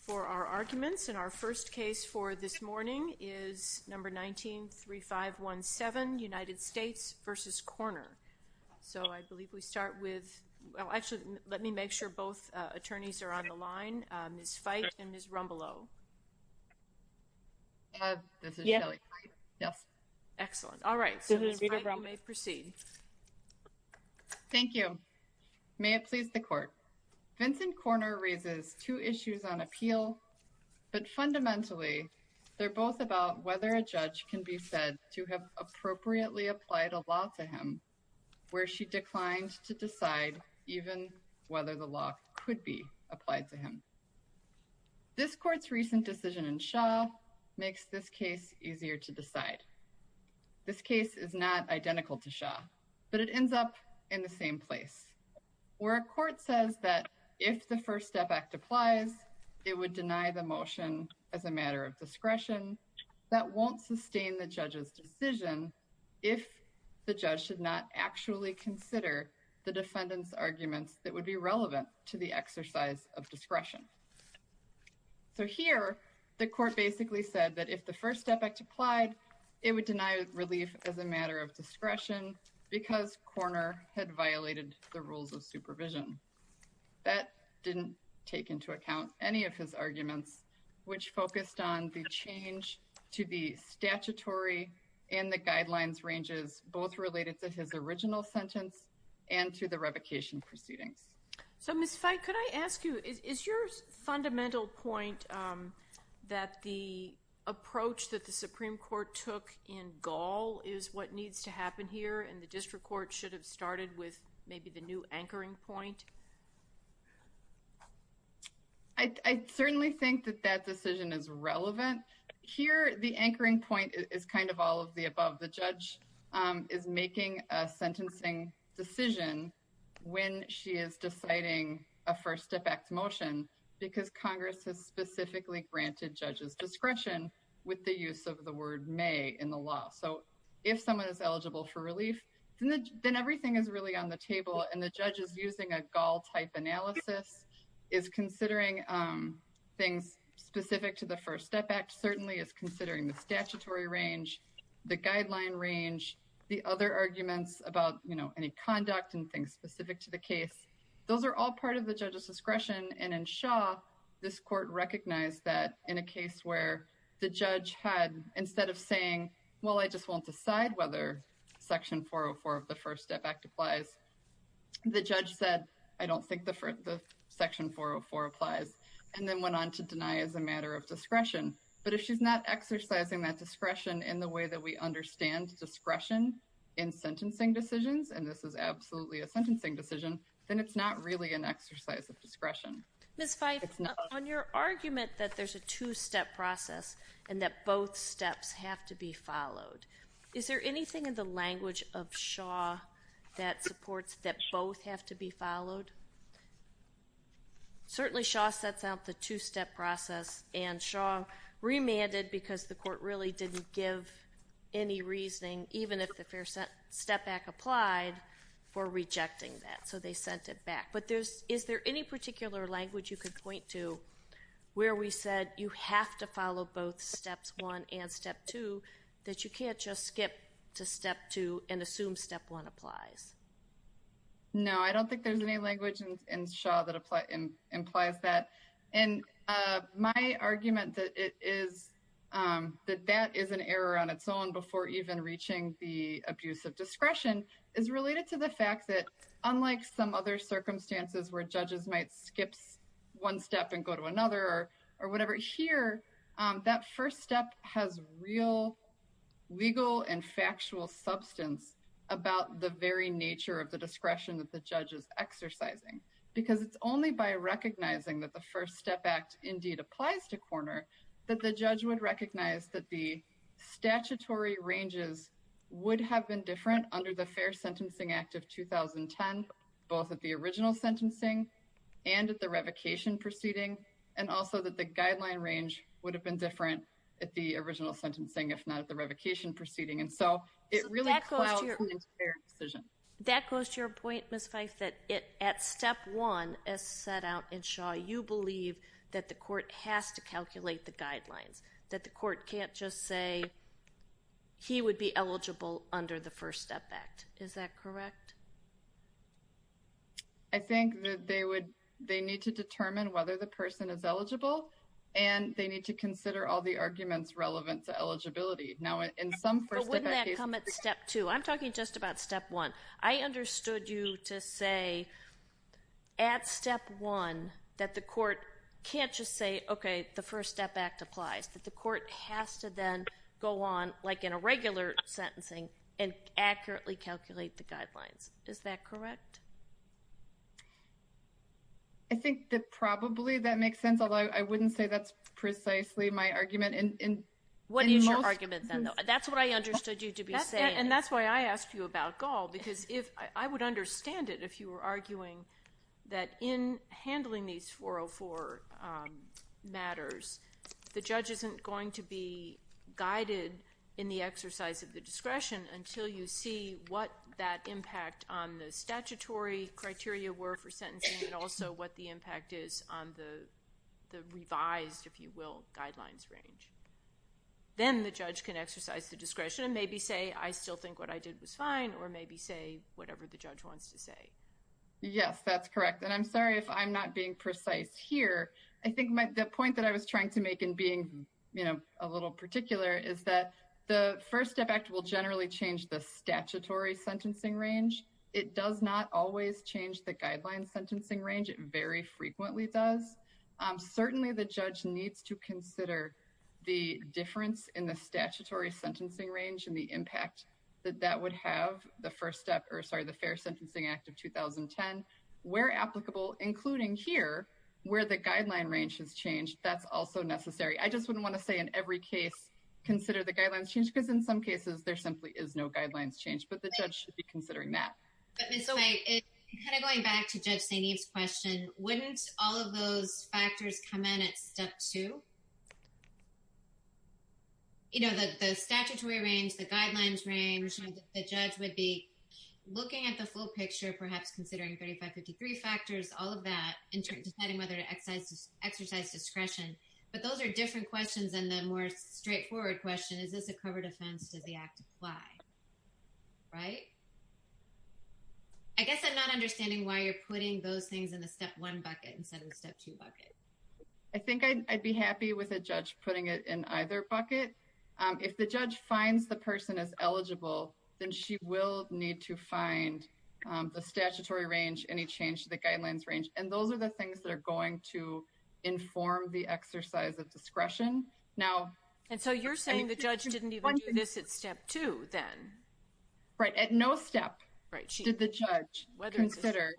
for our arguments. And our first case for this morning is number 193517, United States v. Corner. So I believe we start with, well actually let me make sure both attorneys are on the line, Ms. Fite and Ms. Rumbelow. This is Shelly. Yes. Excellent. All right. So Ms. Fite, you may proceed. Thank you. May it please the court. Vincent Corner raises two issues on appeal, but fundamentally they're both about whether a judge can be said to have appropriately applied a law to him, where she declined to decide even whether the law could be applied to him. This court's recent decision in Shaw makes this case easier to decide. This case is not identical to Shaw, but it ends up in the same place where a court says that if the First Step Act applies, it would deny the motion as a matter of discretion. That won't sustain the judge's decision if the judge should not actually consider the defendant's arguments that would be relevant to the exercise of discretion. So here, the court basically said that if the First Step Act applied, it would deny relief as a matter of discretion because Corner had violated the rules of supervision. That didn't take into account any of his arguments, which focused on the change to the statutory and the guidelines ranges, both related to his original sentence and to the revocation proceedings. So, Ms. Feig, could I ask you, is your fundamental point that the approach that the Supreme Court took in Gall is what needs to happen here and the district court should have started with maybe the new anchoring point? I certainly think that that decision is relevant. Here, the anchoring point is kind of all of the above. The judge is making a sentencing decision when she is deciding a First Step Act motion because Congress has specifically granted judges discretion with the use of the word may in the law. So, if someone is eligible for relief, then everything is really on the table and the judge is using a Gall type analysis, is considering things specific to the First Step Act, certainly is considering the statutory range, the guideline range, the other arguments about, you know, any conduct and things specific to the case. Those are all part of the judge's discretion and in Shaw, this court recognized that in a case where the judge had, instead of saying, well, I just won't decide whether Section 404 of the First Step Act applies, the judge said, I don't think the Section 404 applies and then went on to deny as a matter of discretion. But if she's not exercising that discretion in the way that we understand discretion in sentencing decisions, and this is absolutely a sentencing decision, then it's not really an exercise of discretion. Ms. Fife, on your argument that there's a two-step process and that both steps have to be followed, is there anything in the language of Shaw that supports that both have to be followed? Certainly Shaw sets out the two-step process and Shaw remanded because the court really didn't give any reasoning, even if the Fair Step Act applied, for rejecting that. So they sent it back. But is there any particular language you could point to where we said you have to follow both Steps 1 and Step 2, that you can't just skip to Step 2 and assume Step 1 applies? No, I don't think there's any language in Shaw that implies that. And my argument that that is an error on its own before even reaching the abuse of discretion is related to the fact that, unlike some other circumstances where judges might skip one step and go to another or whatever, here, that first step has real legal and factual substance about the very nature of the discretion that the judge is exercising, because it's only by recognizing that the First Step Act indeed applies to corner that the judge would recognize that the statutory ranges would have been different under the Fair Sentencing Act of 2010, both at the original sentencing and at the revocation proceeding, and also that the guideline range would have been different at the original sentencing, if not at the revocation proceeding. And so it really clouds the fair decision. That goes to your point, Ms. Fife, that at Step 1, as set out in Shaw, you believe that the court has to calculate the guidelines, that the court can't just say he would be eligible under the First Step Act. Is that correct? I think that they need to determine whether the person is eligible, and they need to consider all the arguments relevant to eligibility. But wouldn't that come at Step 2? I'm talking just about Step 1. I understood you to say, at Step 1, that the court can't just say, okay, the First Step Act applies, that the court has to then go on, like in a regular sentencing, and accurately calculate the guidelines. Is that correct? I think that probably that makes sense, although I wouldn't say that's precisely my argument. What is your argument, then, though? That's what I understood you to be saying. Then the judge can exercise the discretion and maybe say, I still think what I did was fine, or maybe say whatever the judge wants to say. Yes, that's correct. And I'm sorry if I'm not being precise here. I think the point that I was trying to make in being a little particular is that the First Step Act will generally change the statutory sentencing range. It does not always change the guideline sentencing range. It very frequently does. Certainly, the judge needs to consider the difference in the statutory sentencing range and the impact that that would have, the Fair Sentencing Act of 2010, where applicable, including here, where the guideline range has changed, that's also necessary. I just wouldn't want to say in every case, consider the guidelines change, because in some cases, there simply is no guidelines change, but the judge should be considering that. Going back to Judge St. Eve's question, wouldn't all of those factors come in at Step 2? You know, the statutory range, the guidelines range, the judge would be looking at the full picture, perhaps considering 3553 factors, all of that, and deciding whether to exercise discretion. But those are different questions than the more straightforward question, is this a covered offense? Does the Act apply? Right? I guess I'm not understanding why you're putting those things in the Step 1 bucket instead of the Step 2 bucket. I think I'd be happy with a judge putting it in either bucket. If the judge finds the person as eligible, then she will need to find the statutory range, any change to the guidelines range, and those are the things that are going to inform the exercise of discretion. And so you're saying the judge didn't even do this at Step 2, then? Right, at no step did the judge consider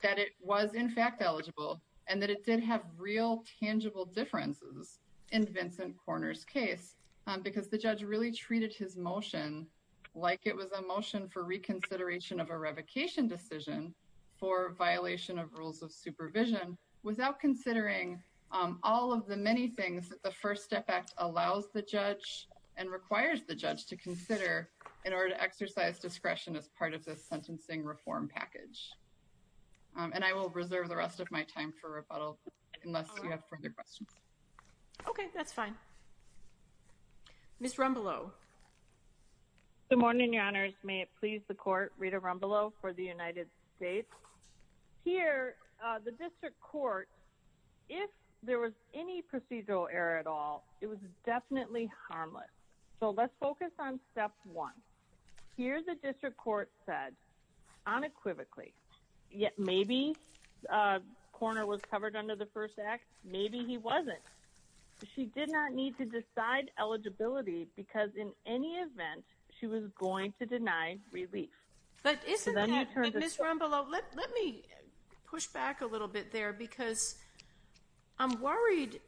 that it was in fact eligible, and that it did have real tangible differences in Vincent Korner's case, because the judge really treated his motion like it was a motion for reconsideration of a revocation decision for violation of rules of supervision, without considering all of the many things that the First Step Act allows the judge and requires the judge to consider in order to exercise discretion as part of this sentencing reform package. And I will reserve the rest of my time for rebuttal, unless you have further questions. Okay, that's fine. Ms. Rumbelow. Good morning, Your Honors. May it please the Court, Rita Rumbelow for the United States. Here, the District Court, if there was any procedural error at all, it was definitely harmless. So let's focus on Step 1. Here the District Court said, unequivocally, maybe Korner was covered under the First Act, maybe he wasn't. She did not need to decide eligibility, because in any event, she was going to deny relief. But isn't that, Ms. Rumbelow, let me push back a little bit there, because I'm worried,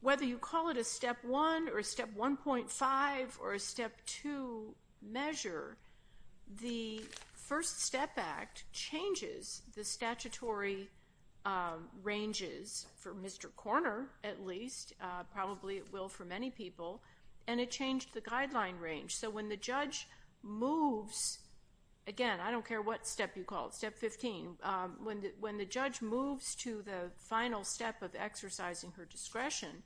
whether you call it a Step 1 or a Step 1.5 or a Step 2 measure, the First Step Act changes the statutory ranges for Mr. Korner, at least, probably it will for many people, and it changed the guideline range. So when the judge moves, again, I don't care what step you call it, Step 15, when the judge moves to the final step of exercising her discretion,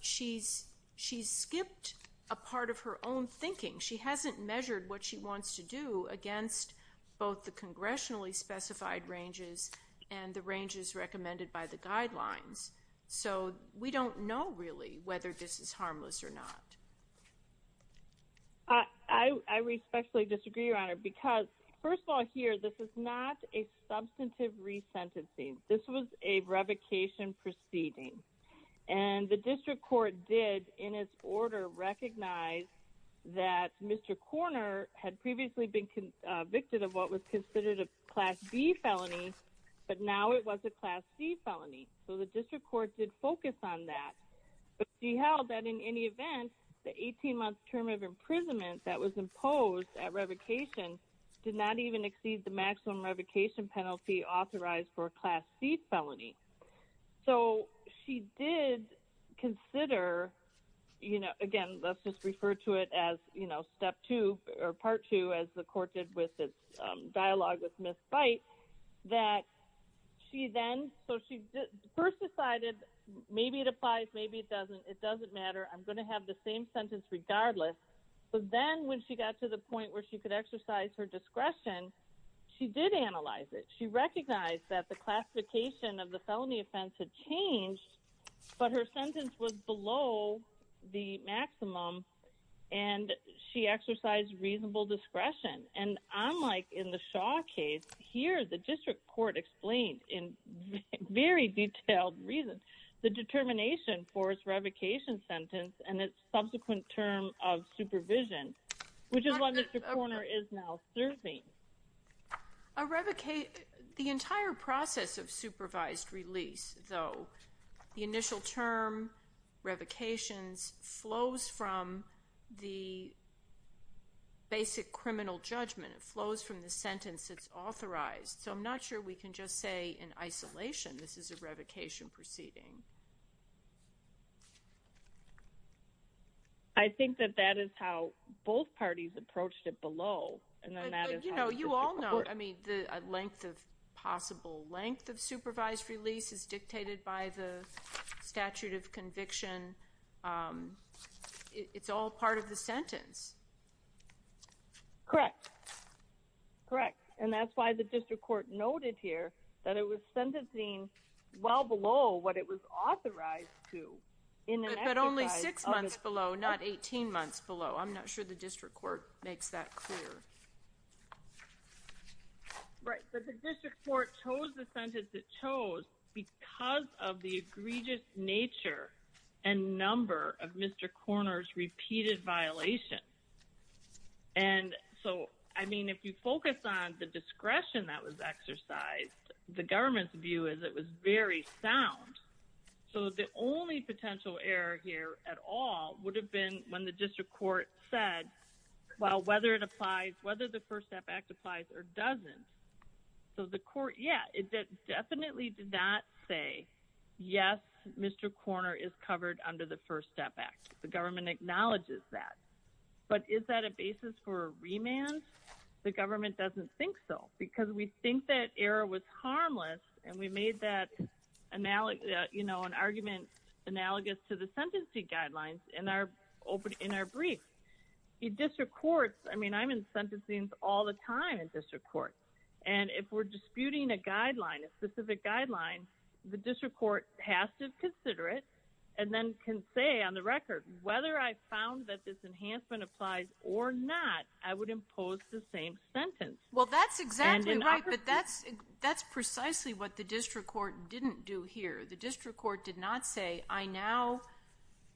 she's skipped a part of her own thinking. She hasn't measured what she wants to do against both the congressionally specified ranges and the ranges recommended by the guidelines. So we don't know, really, whether this is harmless or not. I respectfully disagree, Your Honor, because, first of all, here, this is not a substantive resentencing. This was a revocation proceeding. And the District Court did, in its order, recognize that Mr. Korner had previously been convicted of what was considered a Class B felony, but now it was a Class C felony. So the District Court did focus on that. But she held that, in any event, the 18-month term of imprisonment that was imposed at revocation did not even exceed the maximum revocation penalty authorized for a Class C felony. So she did consider, you know, again, let's just refer to it as, you know, Step 2, or Part 2, as the Court did with its dialogue with Ms. Bight, that she then, so she first decided, maybe it applies, maybe it doesn't, it doesn't matter, I'm going to have the same sentence regardless. But then when she got to the point where she could exercise her discretion, she did analyze it. She recognized that the classification of the felony offense had changed, but her sentence was below the maximum, and she exercised reasonable discretion. And unlike in the Shaw case, here, the District Court explained in very detailed reason the determination for its revocation sentence and its subsequent term of supervision, which is what Mr. Korner is now serving. A revocation, the entire process of supervised release, though, the initial term, revocations, flows from the basic criminal judgment. It flows from the sentence that's authorized. So I'm not sure we can just say in isolation this is a revocation proceeding. I think that that is how both parties approached it below, and then that is how the District Court... But, you know, you all know, I mean, the length of possible length of supervised release is dictated by the statute of conviction. It's all part of the sentence. Correct. Correct, and that's why the District Court noted here that it was sentencing well below what it was authorized to in an exercise of... But only six months below, not 18 months below. I'm not sure the District Court makes that clear. Right, but the District Court chose the sentence it chose because of the egregious nature and number of Mr. Korner's repeated violations. And so, I mean, if you focus on the discretion that was exercised, the government's view is it was very sound. So the only potential error here at all would have been when the District Court said, well, whether it applies, whether the First Step Act applies or doesn't. So the court, yeah, it definitely did not say, yes, Mr. Korner is covered under the First Step Act. The government acknowledges that. But is that a basis for a remand? The government doesn't think so because we think that error was harmless and we made that, you know, an argument analogous to the sentencing guidelines in our brief. In District Courts, I mean, I'm in sentencing all the time in District Courts. And if we're disputing a guideline, a specific guideline, the District Court has to consider it and then can say on the record, whether I found that this enhancement applies or not, I would impose the same sentence. Well, that's exactly right, but that's precisely what the District Court didn't do here. The District Court did not say, I now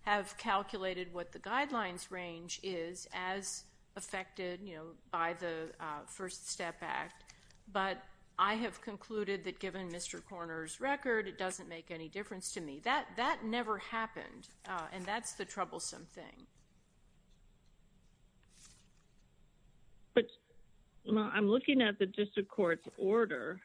have calculated what the guidelines range is as affected, you know, by the First Step Act. But I have concluded that given Mr. Korner's record, it doesn't make any difference to me. That never happened, and that's the troublesome thing. But I'm looking at the District Court's order.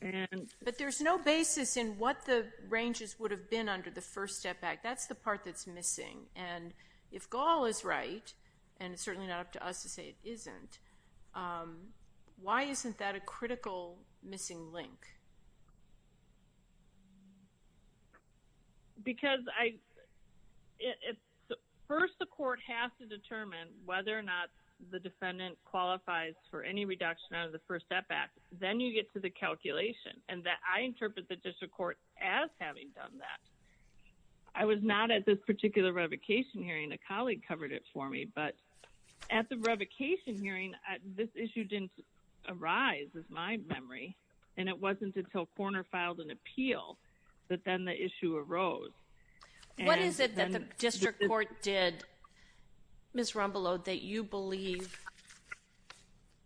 But there's no basis in what the ranges would have been under the First Step Act. That's the part that's missing. And if Gall is right, and it's certainly not up to us to say it isn't, why isn't that a critical missing link? Because first the court has to determine whether or not the defendant qualifies for any reduction under the First Step Act. Then you get to the calculation, and I interpret the District Court as having done that. I was not at this particular revocation hearing. A colleague covered it for me. But at the revocation hearing, this issue didn't arise, is my memory. And it wasn't until Korner filed an appeal that then the issue arose. What is it that the District Court did, Ms. Rombolo, that you believe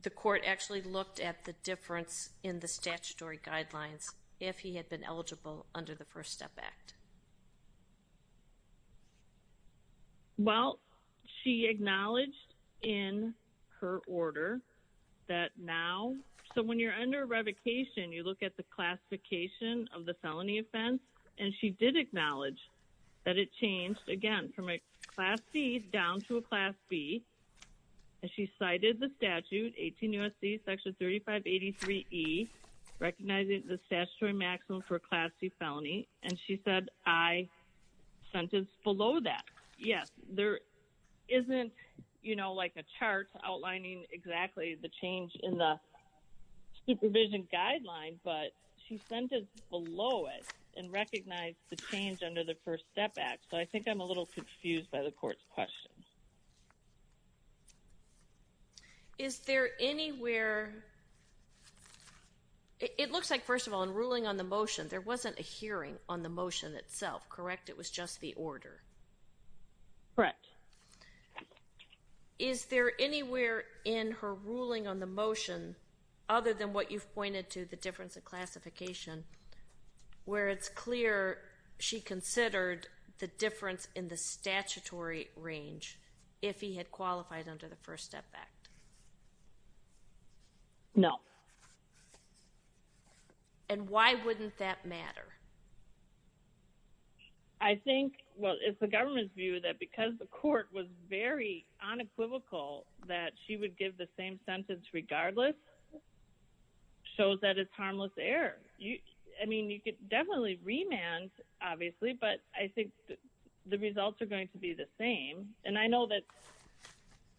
the court actually looked at the difference in the statutory guidelines if he had been eligible under the First Step Act? Well, she acknowledged in her order that now, so when you're under revocation, you look at the classification of the felony offense. And she did acknowledge that it changed, again, from a Class C down to a Class B. And she cited the statute, 18 U.S.C. Section 3583E, recognizing the statutory maximum for a Class C felony. And she said, I sentence below that. Yes, there isn't, you know, like a chart outlining exactly the change in the supervision guideline. But she sentenced below it and recognized the change under the First Step Act. So I think I'm a little confused by the court's question. Is there anywhere – it looks like, first of all, in ruling on the motion, there wasn't a hearing on the motion itself, correct? It was just the order. Correct. Is there anywhere in her ruling on the motion, other than what you've pointed to, the difference in classification, where it's clear she considered the difference in the statutory range if he had qualified under the First Step Act? No. And why wouldn't that matter? I think, well, it's the government's view that because the court was very unequivocal that she would give the same sentence regardless, shows that it's harmless error. I mean, you could definitely remand, obviously, but I think the results are going to be the same. And I know that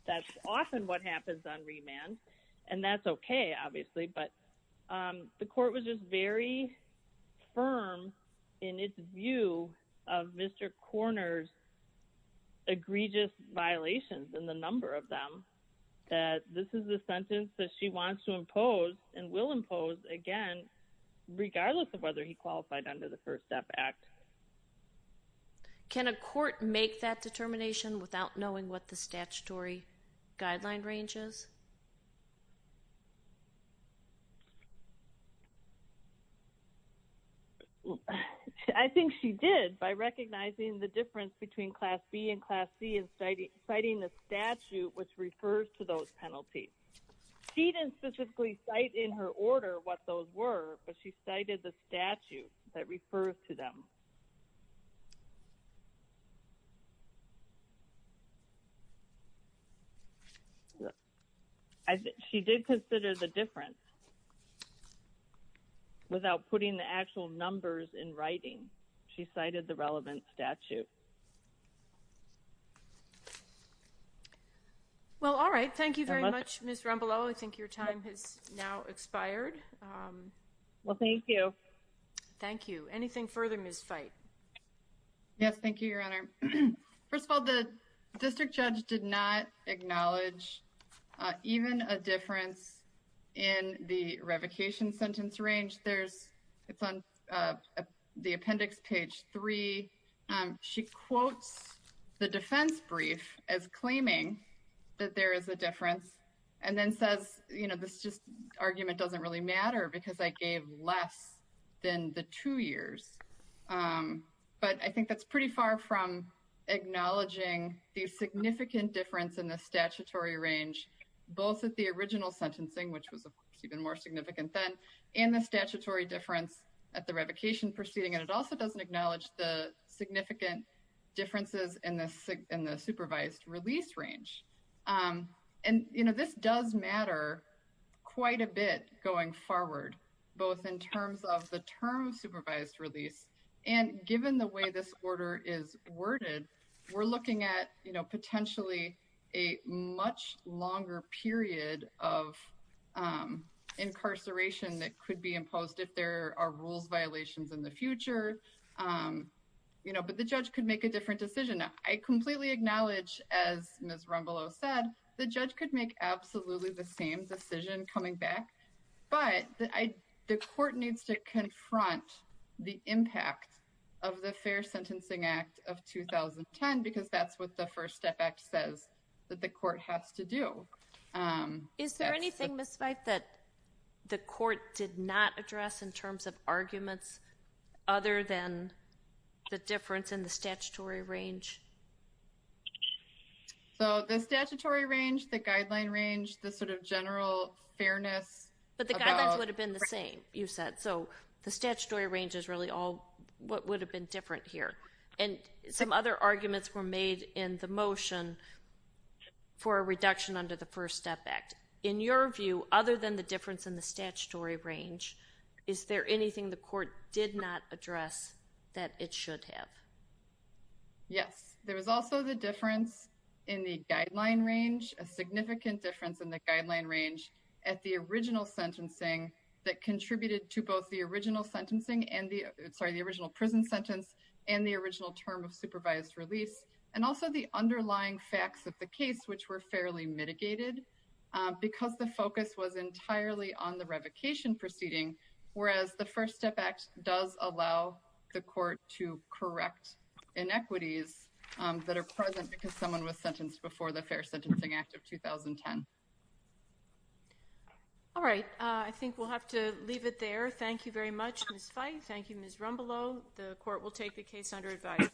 that's often what happens on remand, and that's okay, obviously. But the court was just very firm in its view of Mr. Korner's egregious violations, and the number of them, that this is the sentence that she wants to impose and will impose, again, regardless of whether he qualified under the First Step Act. Can a court make that determination without knowing what the statutory guideline range is? I think she did, by recognizing the difference between Class B and Class C, and citing the statute which refers to those penalties. She didn't specifically cite in her order what those were, but she cited the statute that refers to them. She did consider the difference without putting the actual numbers in writing. She cited the relevant statute. Well, all right. Thank you very much, Ms. Rombolo. I think your time has now expired. Well, thank you. Thank you. Anything further, Ms. Feit? Yes, thank you, Your Honor. First of all, the district judge did not acknowledge even a difference in the revocation sentence range. It's on the appendix, page 3. She quotes the defense brief as claiming that there is a difference, and then says, you know, this just argument doesn't really matter because I gave less than the two years. But I think that's pretty far from acknowledging the significant difference in the statutory range, both at the original sentencing, which was even more significant then, and the statutory difference at the revocation proceeding. And it also doesn't acknowledge the significant differences in the supervised release range. And, you know, this does matter quite a bit going forward, both in terms of the term supervised release, and given the way this order is worded, we're looking at, you know, potentially a much longer period of incarceration that could be imposed if there are rules violations in the future. You know, but the judge could make a different decision. I completely acknowledge, as Ms. Rumbelow said, the judge could make absolutely the same decision coming back, but the court needs to confront the impact of the Fair Sentencing Act of 2010, because that's what the First Step Act says that the court has to do. Is there anything, Ms. Weiss, that the court did not address in terms of arguments other than the difference in the statutory range? So the statutory range, the guideline range, the sort of general fairness about... But the guidelines would have been the same, you said. So the statutory range is really all what would have been different here. And some other arguments were made in the motion for a reduction under the First Step Act. In your view, other than the difference in the statutory range, is there anything the court did not address that it should have? Yes. There was also the difference in the guideline range, a significant difference in the guideline range, at the original sentencing that contributed to both the original prison sentence and the original term of supervised release, and also the underlying facts of the case, which were fairly mitigated, because the focus was entirely on the revocation proceeding, whereas the First Step Act does allow the court to correct inequities that are present because someone was sentenced before the Fair Sentencing Act of 2010. All right. I think we'll have to leave it there. Thank you very much, Ms. Feith. Thank you, Ms. Rumbelow. The court will take the case under advice.